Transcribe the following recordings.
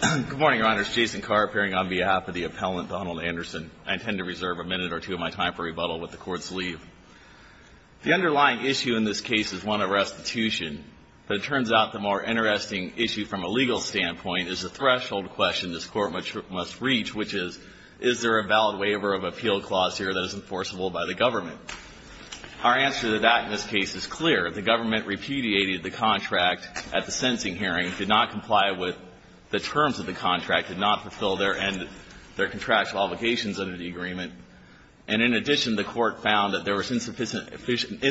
Good morning, Your Honor. It's Jason Karp, appearing on behalf of the appellant, Donald Anderson. I intend to reserve a minute or two of my time for rebuttal with the Court's leave. The underlying issue in this case is, one, a restitution. But it turns out the more interesting issue from a legal standpoint is a threshold question this Court must reach, which is, is there a valid waiver of appeal clause here that is enforceable by the government? Our answer to that in this case is clear. The government repudiated the contract at the sentencing hearing, did not comply with the terms of the contract, did not fulfill their contractual obligations under the agreement. And in addition, the Court found that there was insufficient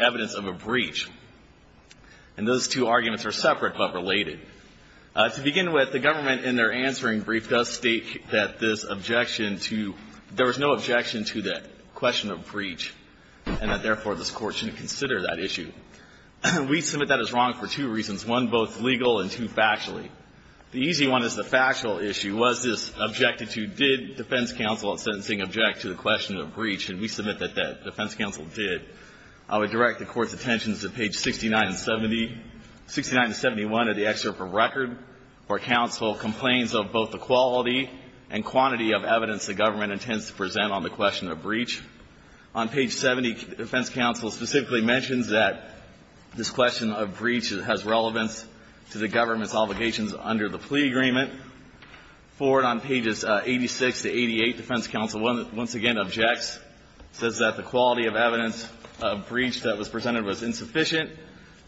evidence of a breach. And those two arguments are separate but related. To begin with, the government, in their answering brief, does state that this objection to – there was no objection to that question of breach, and that, therefore, this Court shouldn't consider that issue. We submit that as wrong for two reasons, one, both legal and two, factually. The easy one is the factual issue. Was this objected to? Did defense counsel at sentencing object to the question of breach? And we submit that the defense counsel did. I would direct the Court's attentions to page 69 and 70. 69 and 71 of the excerpt from record for counsel complains of both the quality On page 70, defense counsel specifically mentions that this question of breach has relevance to the government's obligations under the plea agreement. Forward on pages 86 to 88, defense counsel once again objects, says that the quality of evidence of breach that was presented was insufficient.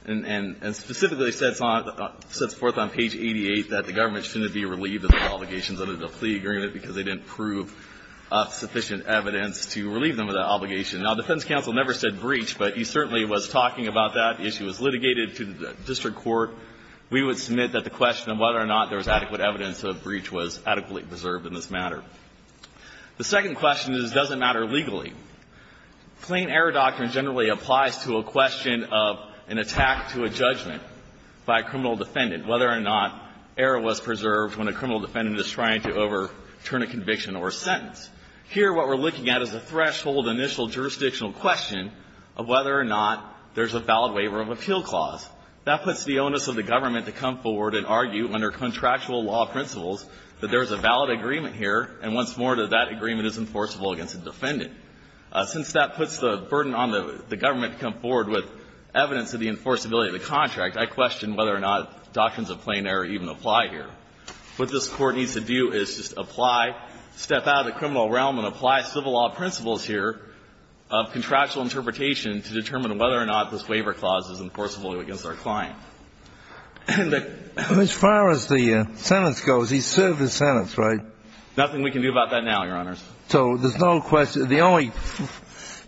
And specifically sets forth on page 88 that the government shouldn't be relieved of the obligations under the plea agreement because they didn't prove sufficient evidence to relieve the government's obligations. Now, defense counsel never said breach, but he certainly was talking about that. The issue was litigated to the district court. We would submit that the question of whether or not there was adequate evidence of breach was adequately preserved in this matter. The second question is, does it matter legally? Plain error doctrine generally applies to a question of an attack to a judgment by a criminal defendant, whether or not error was preserved when a criminal defendant is trying to overturn a conviction or a sentence. Here, what we're looking at is a threshold initial jurisdictional question of whether or not there's a valid waiver of appeal clause. That puts the onus of the government to come forward and argue under contractual law principles that there is a valid agreement here, and once more, that that agreement is enforceable against the defendant. Since that puts the burden on the government to come forward with evidence of the enforceability of the contract, I question whether or not doctrines of plain error even apply here. What this Court needs to do is just apply, step out of the criminal realm and apply civil law principles here of contractual interpretation to determine whether or not this waiver clause is enforceable against our client. As far as the sentence goes, he served his sentence, right? Nothing we can do about that now, Your Honors. So there's no question. The only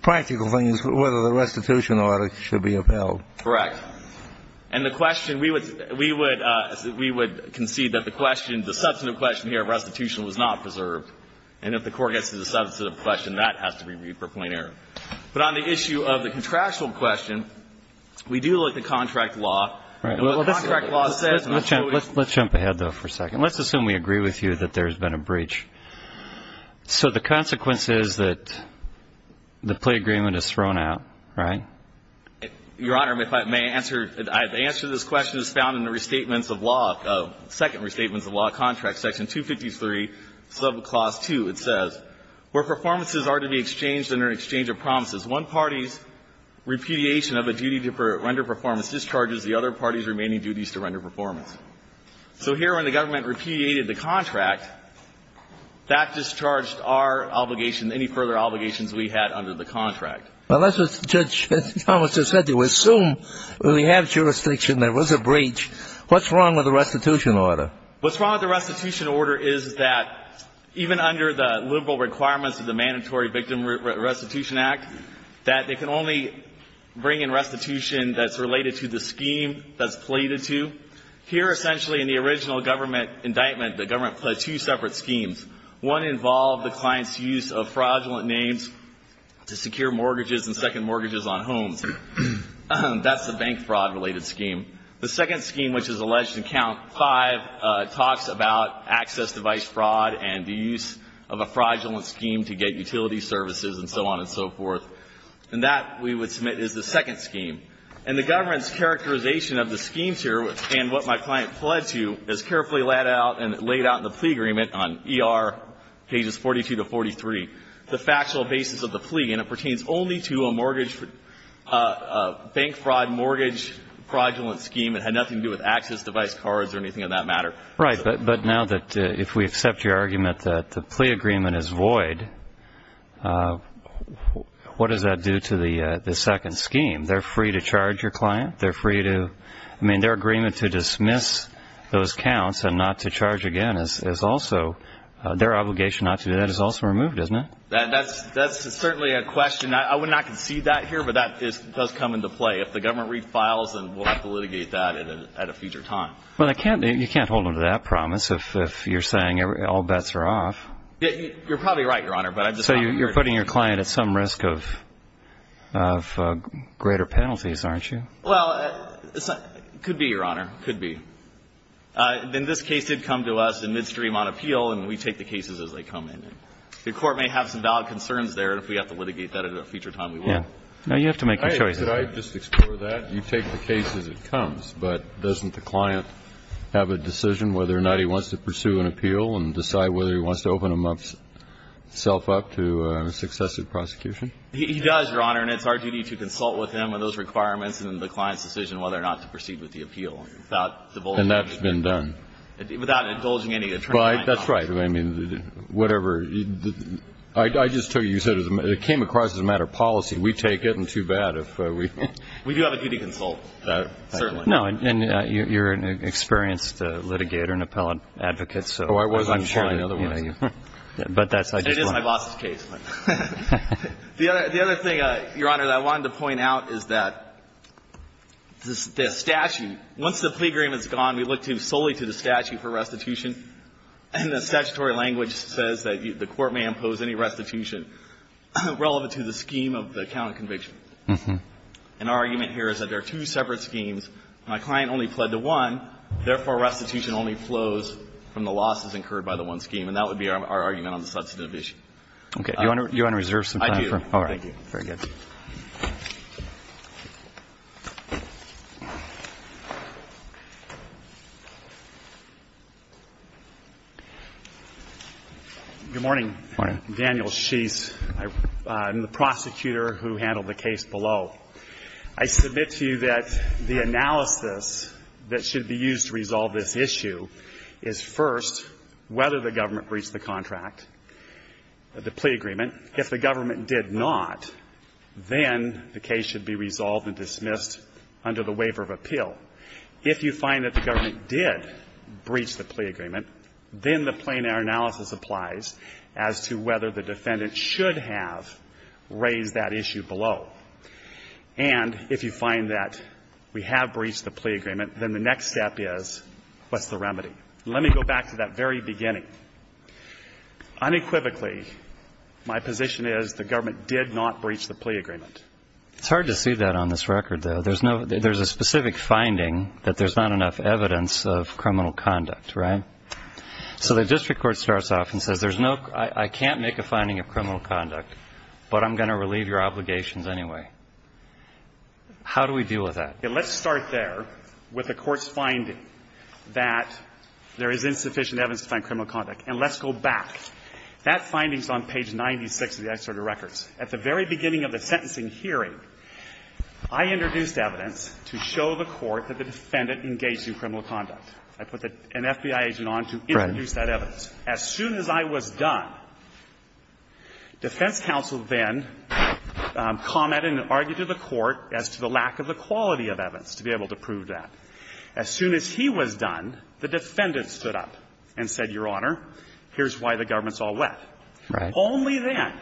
practical thing is whether the restitution order should be upheld. Correct. And the question, we would concede that the question, the substantive question here of restitution was not preserved, and if the Court gets to the substantive question, that has to be read for plain error. But on the issue of the contractual question, we do look at contract law, and what contract law says, and I'll show you. Let's jump ahead, though, for a second. Let's assume we agree with you that there's been a breach. So the consequence is that the plea agreement is thrown out, right? Your Honor, if I may answer, the answer to this question is found in the Restatements of Law, second Restatements of Law contract, section 253, subclause 2. It says, Where performances are to be exchanged under an exchange of promises, one party's repudiation of a duty to render performance discharges the other party's remaining duties to render performance. So here, when the government repudiated the contract, that discharged our obligation, any further obligations we had under the contract. Well, that's what Judge Thomas just said to you. Assume we have jurisdiction, there was a breach. What's wrong with the restitution order? What's wrong with the restitution order is that even under the liberal requirements of the Mandatory Victim Restitution Act, that they can only bring in restitution that's related to the scheme that's pleaded to. Here, essentially, in the original government indictment, the government pledged two separate schemes. One involved the client's use of fraudulent names to secure mortgages and second mortgages on homes. That's the bank fraud-related scheme. The second scheme, which is alleged in Count 5, talks about access device fraud and the use of a fraudulent scheme to get utility services and so on and so forth. And that, we would submit, is the second scheme. And the government's characterization of the schemes here and what my client pledged to is carefully laid out in the plea agreement on ER pages 42 to 43. The factual basis of the plea, and it pertains only to a mortgage, a bank fraud mortgage fraudulent scheme. It had nothing to do with access device cards or anything of that matter. Right, but now that, if we accept your argument that the plea agreement is void, what does that do to the second scheme? They're free to charge your client. They're free to, I mean, their agreement to dismiss those counts and not to charge again is also, their obligation not to do that is also removed, isn't it? That's certainly a question. I would not concede that here, but that does come into play. If the government refiles, then we'll have to litigate that at a future time. Well, you can't hold them to that promise if you're saying all bets are off. You're probably right, Your Honor, but I'm just not sure. So you're putting your client at some risk of greater penalties, aren't you? Well, it could be, Your Honor, it could be. Then this case did come to us in midstream on appeal, and we take the cases as they come in. The Court may have some valid concerns there, and if we have to litigate that at a future time, we will. Now, you have to make a choice. Could I just explore that? You take the case as it comes, but doesn't the client have a decision whether or not he wants to pursue an appeal and decide whether he wants to open himself up to successive prosecution? He does, Your Honor, and it's our duty to consult with him on those requirements and the client's decision whether or not to proceed with the appeal without divulging anything. And that's been done. Without indulging any attorney- Well, that's right. I mean, whatever. I just told you, you said it came across as a matter of policy. We take it, and too bad if we- We do have a duty to consult, certainly. No, and you're an experienced litigator and appellate advocate, so I'm sure- Oh, I wasn't sure in other words. But that's- It is my boss's case. The other thing, Your Honor, that I wanted to point out is that the statute, once the plea agreement is gone, we look to solely to the statute for restitution, and the statutory language says that the court may impose any restitution relevant to the scheme of the count of conviction. And our argument here is that there are two separate schemes. My client only pled to one. Therefore, restitution only flows from the losses incurred by the one scheme, and that would be our argument on the substantive issue. Okay. Do you want to reserve some time for- I do. All right. Thank you. Very good. Good morning. Good morning. Daniel Sheese. I'm the prosecutor who handled the case below. I submit to you that the analysis that should be used to resolve this issue is, first, whether the government breached the contract, the plea agreement. If the government did not, then the case should be resolved and dismissed under the waiver of appeal. If you find that the government did breach the plea agreement, then the plein air analysis applies as to whether the defendant should have raised that issue below. And if you find that we have breached the plea agreement, then the next step is, what's the remedy? Let me go back to that very beginning. Unequivocally, my position is the government did not breach the plea agreement. It's hard to see that on this record, though. There's no, there's a specific finding that there's not enough evidence of criminal conduct, right? So the district court starts off and says, there's no, I can't make a finding of criminal conduct, but I'm going to relieve your obligations anyway. How do we deal with that? Let's start there with the Court's finding that there is insufficient evidence to find criminal conduct, and let's go back. That finding is on page 96 of the extradited records. At the very beginning of the sentencing hearing, I introduced evidence to show the Court that the defendant engaged in criminal conduct. I put an FBI agent on to introduce that evidence. As soon as I was done, defense counsel then commented and argued to the Court as to the lack of the quality of evidence to be able to prove that. As soon as he was done, the defendant stood up and said, Your Honor, here's why the government's all wet. Only then,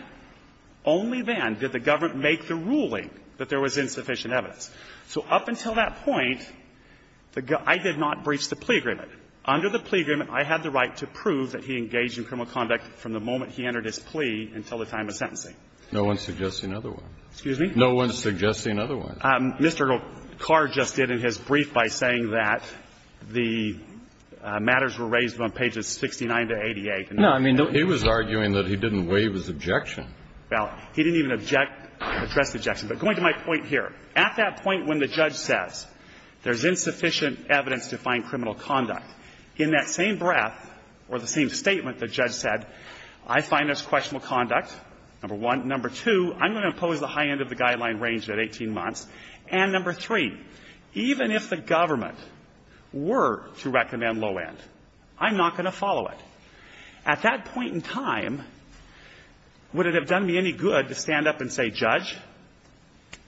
only then did the government make the ruling that there was insufficient evidence. So up until that point, I did not breach the plea agreement. Under the plea agreement, I had the right to prove that he engaged in criminal conduct from the moment he entered his plea until the time of sentencing. No one's suggesting another one. Excuse me? No one's suggesting another one. Mr. Carr just did in his brief by saying that the matters were raised from pages 69 to 88. No, I mean, he was arguing that he didn't waive his objection. Well, he didn't even object, address the objection. But going to my point here, at that point when the judge says there's insufficient evidence to find criminal conduct, in that same breath or the same statement the judge said, I find there's questionable conduct, number one. Number two, I'm going to impose the high end of the guideline range at 18 months. And number three, even if the government were to recommend low end, I'm not going to follow it. At that point in time, would it have done me any good to stand up and say, Judge,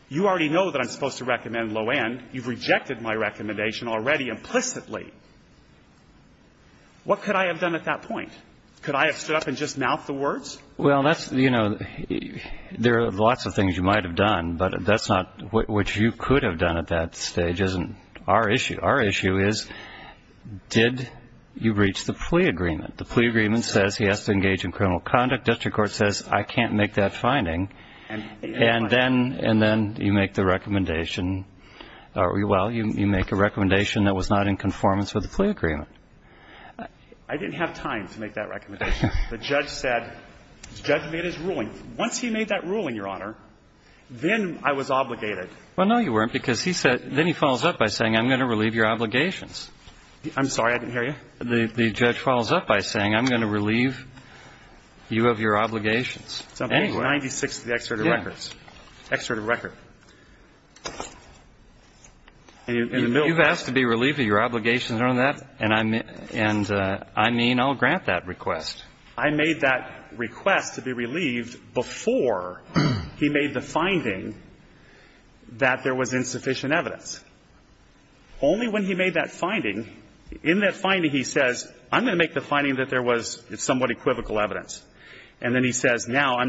you already know that I'm supposed to recommend low end. You've rejected my recommendation already implicitly. What could I have done at that point? Could I have stood up and just mouthed the words? Well, that's, you know, there are lots of things you might have done, but that's not what you could have done at that stage, isn't our issue. Our issue is, did you reach the plea agreement? The plea agreement says he has to engage in criminal conduct. District court says, I can't make that finding. And then you make the recommendation, well, you make a recommendation that was not in conformance with the plea agreement. I didn't have time to make that recommendation. The judge said, the judge made his ruling. Once he made that ruling, Your Honor, then I was obligated. Well, no, you weren't, because he said then he follows up by saying, I'm going to relieve your obligations. I'm sorry, I didn't hear you. The judge follows up by saying, I'm going to relieve you of your obligations. It's 96 to the exerted records, exerted record. You've asked to be relieved of your obligations, Your Honor, and I mean, I'll grant that request. I made that request to be relieved before he made the finding that there was insufficient evidence. Only when he made that finding, in that finding he says, I'm going to make the finding that there was somewhat equivocal evidence. And then he says, now, I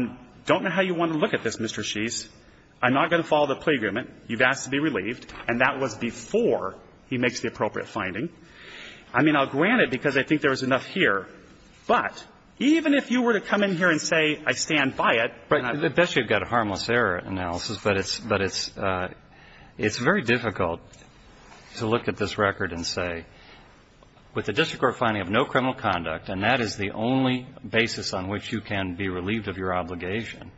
don't know how you want to look at this, Mr. Sheese. I'm not going to follow the plea agreement. You've asked to be relieved. And that was before he makes the appropriate finding. I mean, I'll grant it, because I think there was enough here. But even if you were to come in here and say, I stand by it, but I'm not going to do it. Breyer, I guess you've got a harmless error analysis, but it's very difficult to look at this record and say, with the district court finding of no criminal conduct, and that is the only basis on which you can be relieved of your obligation,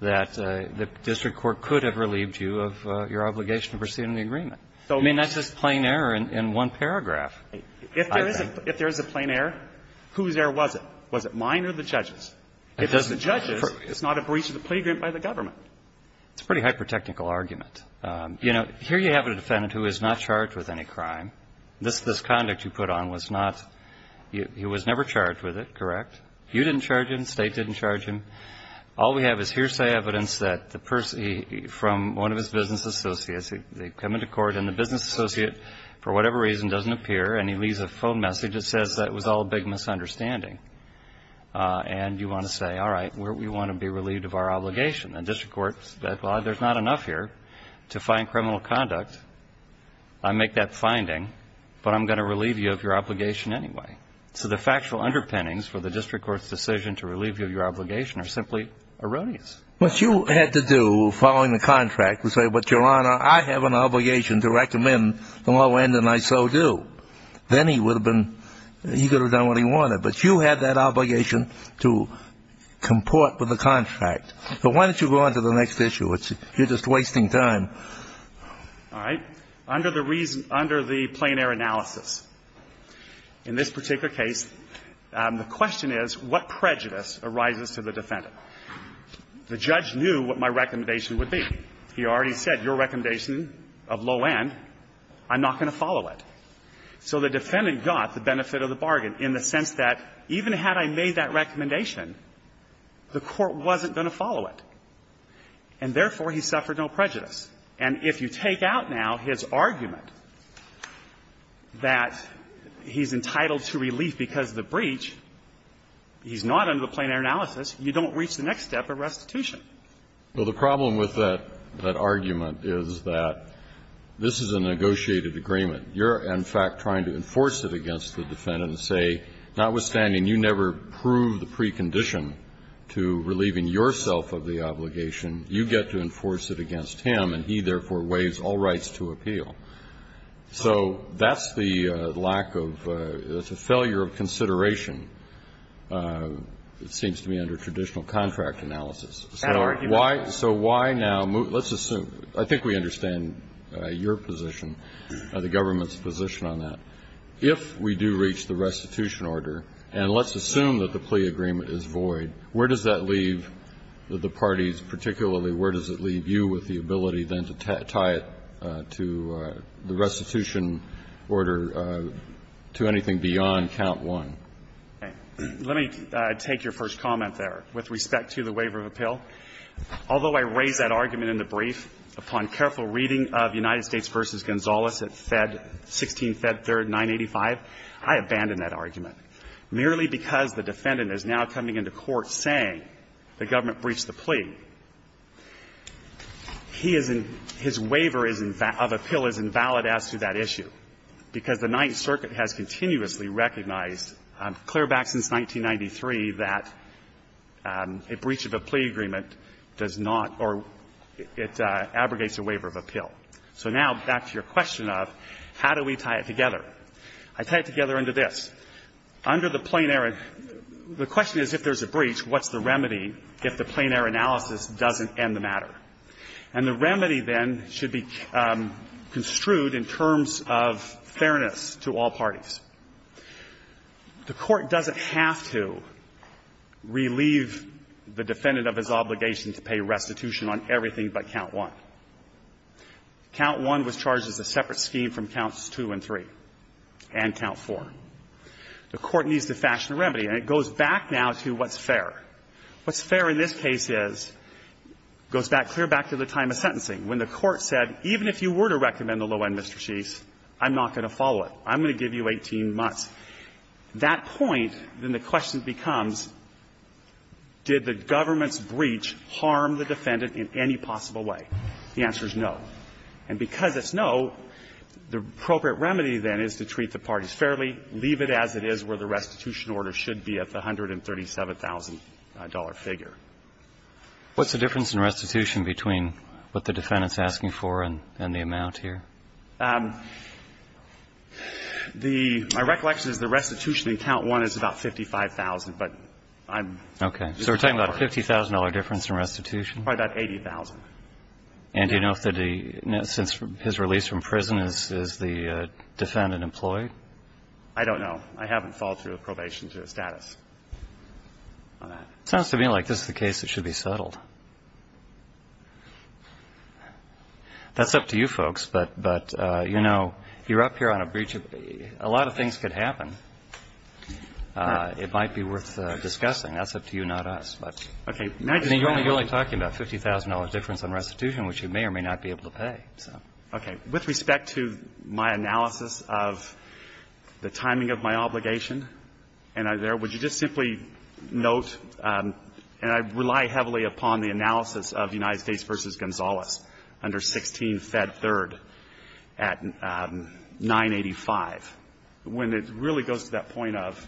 that the district court could have relieved you of your obligation to proceed in the agreement. I mean, that's just plain error in one paragraph. If there is a plain error, whose error was it? Was it mine or the judge's? If it's the judge's, it's not a breach of the plea agreement by the government. It's a pretty hyper-technical argument. You know, here you have a defendant who is not charged with any crime. This conduct you put on was not he was never charged with it, correct? You didn't charge him. State didn't charge him. All we have is hearsay evidence that the person from one of his business associates, they come into court and the business associate, for whatever reason, doesn't appear, and he leaves a phone message that says that it was all a big misunderstanding. And you want to say, all right, we want to be relieved of our obligation. The district court said, well, there's not enough here to find criminal conduct. I make that finding, but I'm going to relieve you of your obligation anyway. So the factual underpinnings for the district court's decision to relieve you of your obligation are simply erroneous. What you had to do, following the contract, was say, but, Your Honor, I have an obligation to recommend the low end, and I so do. Then he would have been he could have done what he wanted. But you had that obligation to comport with the contract. So why don't you go on to the next issue? You're just wasting time. All right. Under the reason under the plein air analysis, in this particular case, the question is what prejudice arises to the defendant? The judge knew what my recommendation would be. He already said, your recommendation of low end, I'm not going to follow it. So the defendant got the benefit of the bargain in the sense that even had I made that recommendation, the court wasn't going to follow it. And therefore, he suffered no prejudice. And if you take out now his argument that he's entitled to relief because of the obligation, what's the next step of restitution? Well, the problem with that argument is that this is a negotiated agreement. You're, in fact, trying to enforce it against the defendant and say, notwithstanding you never proved the precondition to relieving yourself of the obligation, you get to enforce it against him, and he, therefore, waives all rights to appeal. And so the question is, if we do reach the restitution order, and let's assume that the plea agreement is void, where does that leave the parties, particularly where does it leave you with the ability then to tie it to the restitution order to anything beyond count one? Let me take your first comment there with respect to the waiver of appeal. Although I raise that argument in the brief, upon careful reading of United States v. Gonzales at 16 Fed 3, 985, I abandon that argument, merely because the defendant is now coming into court saying the government breached the plea. He is in his waiver of appeal is invalid as to that issue, because the Ninth Circuit has continuously recognized, clear back since 1993, that a breach of a plea agreement does not or it abrogates a waiver of appeal. So now back to your question of how do we tie it together. I tie it together under this. Under the plain air, the question is, if there's a breach, what's the remedy if the plain air analysis doesn't end the matter? And the remedy then should be construed in terms of fairness to all parties. The Court doesn't have to relieve the defendant of his obligation to pay restitution on everything but count one. Count one was charged as a separate scheme from counts two and three and count four. The Court needs to fashion a remedy, and it goes back now to what's fair. What's fair in this case is, goes back, clear back to the time of sentencing, when the Court said, even if you were to recommend the low end, Mr. Sheets, I'm not going to follow it. I'm going to give you 18 months. That point, then the question becomes, did the government's breach harm the defendant in any possible way? The answer is no. And because it's no, the appropriate remedy then is to treat the parties fairly, leave it as it is where the restitution order should be at the $137,000 figure. What's the difference in restitution between what the defendant's asking for and the amount here? The – my recollection is the restitution in count one is about $55,000, but I'm just not aware. Okay. So we're talking about a $50,000 difference in restitution? Probably about $80,000. And do you know if the – since his release from prison, is the defendant employed? I don't know. I haven't followed through with probation to his status. All right. It sounds to me like this is the case that should be settled. That's up to you folks, but, you know, you're up here on a breach of – a lot of things could happen. It might be worth discussing. That's up to you, not us. But, I mean, you're only talking about $50,000 difference in restitution, which you may or may not be able to pay, so. Okay. With respect to my analysis of the timing of my obligation, and I there – would you just simply note – and I rely heavily upon the analysis of United States v. Gonzales under 16 Fed 3rd at 985. When it really goes to that point of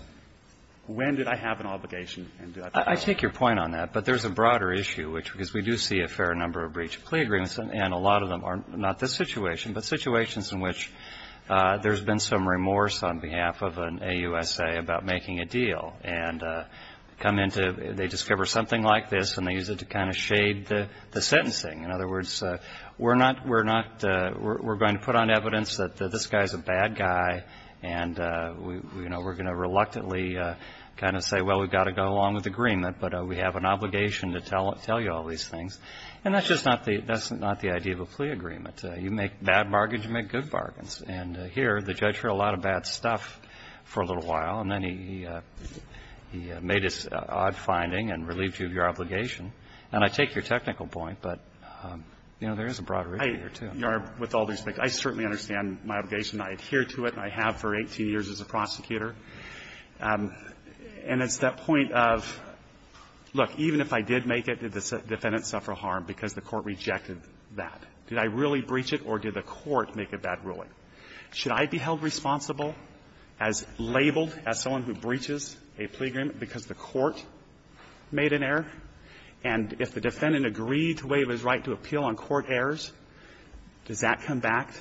when did I have an obligation and did I not? I take your point on that, but there's a broader issue, which – because we do see a fair number of breach of plea agreements, and a lot of them are not this situation, but situations in which there's been some remorse on behalf of an AUSA about making a deal. And come into – they discover something like this, and they use it to kind of shade the sentencing. In other words, we're not – we're going to put on evidence that this guy's a bad guy, and, you know, we're going to reluctantly kind of say, well, we've got to go along with the agreement, but we have an obligation to tell you all these things, and that's just not the – that's not the idea of a plea agreement. You make bad bargains, you make good bargains. And here, the judge heard a lot of bad stuff for a little while, and then he made his odd finding and relieved you of your obligation. And I take your technical point, but, you know, there is a broader issue here, too. I – with all due respect, I certainly understand my obligation. I adhere to it, and I have for 18 years as a prosecutor. And it's that point of, look, even if I did make it, did the defendant suffer harm because the court rejected that? Did I really breach it, or did the court make a bad ruling? Should I be held responsible as labeled as someone who breaches a plea agreement because the court made an error? And if the defendant agreed to waive his right to appeal on court errors, does that come back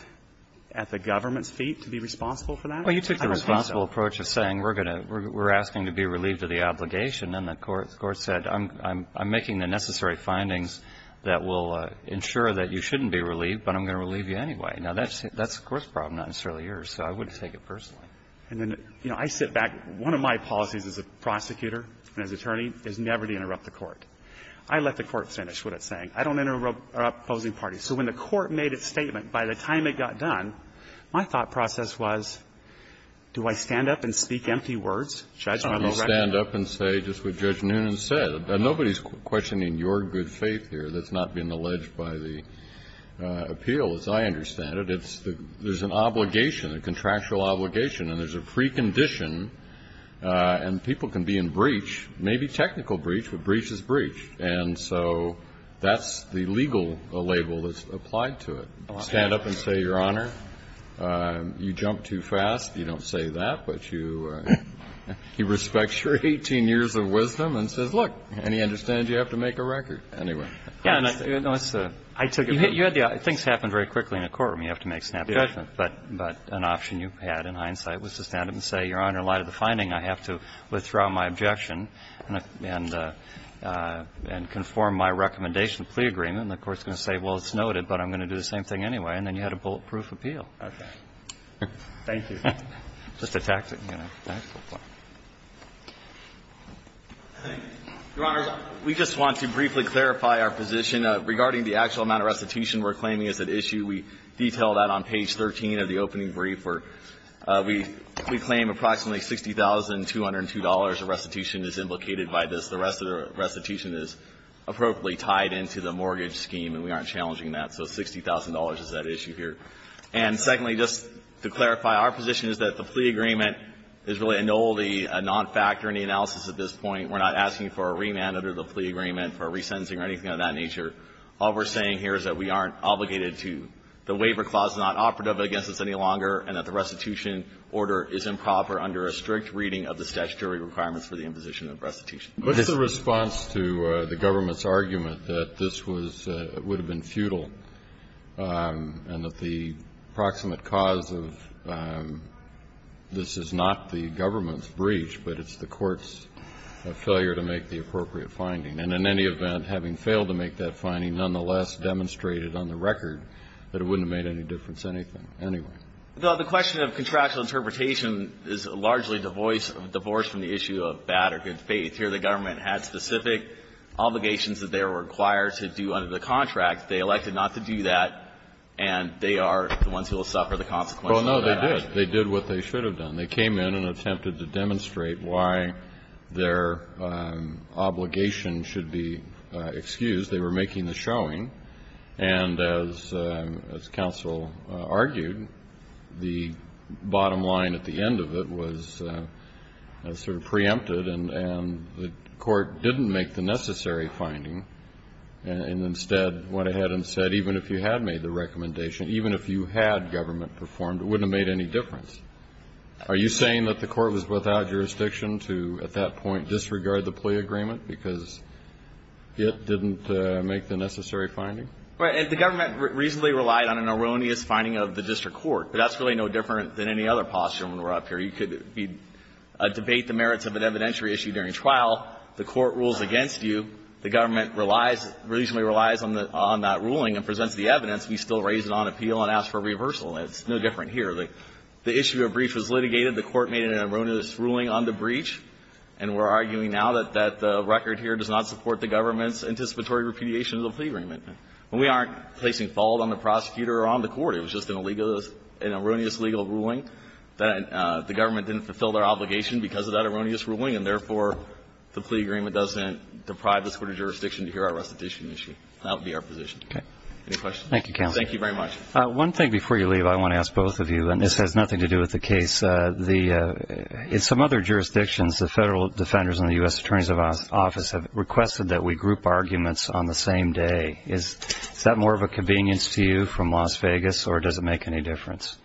at the government's feet to be responsible for that? Well, you took the responsible approach of saying we're going to – we're asking to be relieved of the obligation, and the court said, I'm making the necessary findings that will ensure that you shouldn't be relieved, but I'm going to relieve you anyway. Now, that's the court's problem, not necessarily yours, so I wouldn't take it personally. And then, you know, I sit back. One of my policies as a prosecutor and as attorney is never to interrupt the court. I let the court finish what it's saying. I don't interrupt opposing parties. So when the court made its statement, by the time it got done, my thought process was, do I stand up and speak empty words? Should I just stand up and say just what Judge Noonan said? Nobody's questioning your good faith here that's not being alleged by the appeal, as I understand it. It's the – there's an obligation, a contractual obligation, and there's a precondition, and people can be in breach, maybe technical breach, but breach is breach. And so that's the legal label that's applied to it. Stand up and say, Your Honor, you jumped too fast. You don't say that, but you – he respects your 18 years of wisdom and says, look. And he understands you have to make a record anyway. Yeah, and I – I took it – you had the – things happen very quickly in a courtroom. You have to make snap judgment. But an option you had in hindsight was to stand up and say, Your Honor, in light of the finding, I have to withdraw my objection and conform my recommendation of plea agreement, and the court's going to say, well, it's noted, but I'm going to do the same thing anyway, and then you had a bulletproof appeal. Okay. Thank you. Just a tactic, you know. Your Honor, we just want to briefly clarify our position. Regarding the actual amount of restitution we're claiming as an issue, we detail that on page 13 of the opening brief where we claim approximately $60,202 of restitution is implicated by this. The rest of the restitution is appropriately tied into the mortgage scheme, and we aren't challenging that. So $60,000 is that issue here. And secondly, just to clarify, our position is that the plea agreement is really an oldie, a non-factor in the analysis at this point. We're not asking for a remand under the plea agreement, for a resentencing or anything of that nature. All we're saying here is that we aren't obligated to – the waiver clause is not operative against us any longer, and that the restitution order is improper under a strict reading of the statutory requirements for the imposition of restitution. Kennedy. What's the response to the government's argument that this was – would have been futile and that the proximate cause of this is not the government's breach, but it's the court's failure to make the appropriate finding, and in any event, having failed to make that finding, nonetheless demonstrated on the record that it wouldn't have made any difference anyway? The question of contractual interpretation is largely divorced from the issue of bad or good faith. Here, the government had specific obligations that they were required to do under the contract. They elected not to do that, and they are the ones who will suffer the consequences of that. Well, no, they did. They did what they should have done. They came in and attempted to demonstrate why their obligation should be excused. They were making the showing, and as counsel argued, the bottom line at the end of it was sort of preempted, and the court didn't make the necessary finding and instead went ahead and said, even if you had made the recommendation, even if you had government performed, it wouldn't have made any difference. Are you saying that the court was without jurisdiction to, at that point, disregard the plea agreement because it didn't make the necessary finding? Right. And the government reasonably relied on an erroneous finding of the district court, but that's really no different than any other posture when we're up here. You could debate the merits of an evidentiary issue during trial. The court rules against you. The government relies, reasonably relies on that ruling and presents the evidence. We still raise it on appeal and ask for reversal. It's no different here. The issue of breach was litigated. The court made an erroneous ruling on the breach, and we're arguing now that the record here does not support the government's anticipatory repudiation of the plea agreement. We aren't placing fault on the prosecutor or on the court. It was just an erroneous legal ruling that the government didn't fulfill their obligation because of that erroneous ruling, and therefore, the plea agreement doesn't deprive the Superior Jurisdiction to hear our restitution issue. That would be our position. Okay. Any questions? Thank you, counsel. Thank you very much. One thing before you leave, I want to ask both of you, and this has nothing to do with the case. In some other jurisdictions, the federal defenders and the U.S. Attorney's Office have requested that we group arguments on the same day. Is that more of a convenience to you from Las Vegas, or does it make any difference?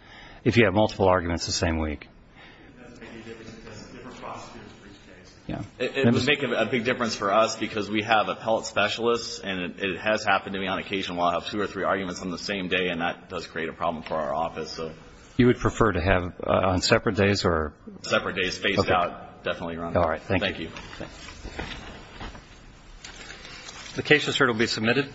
If you have multiple arguments the same week. It doesn't make any difference. It's just a different process for each case. Yeah. It would make a big difference for us because we have appellate specialists, and it has happened to me on occasion where I'll have two or three arguments on the same day, and that does create a problem for our office, so. You would prefer to have on separate days, or? Separate days, phased out. Definitely around that. All right. Thank you. Thank you. Thank you. Thank you. Thank you. Thank you. Thank you. The case is heard. It will be submitted.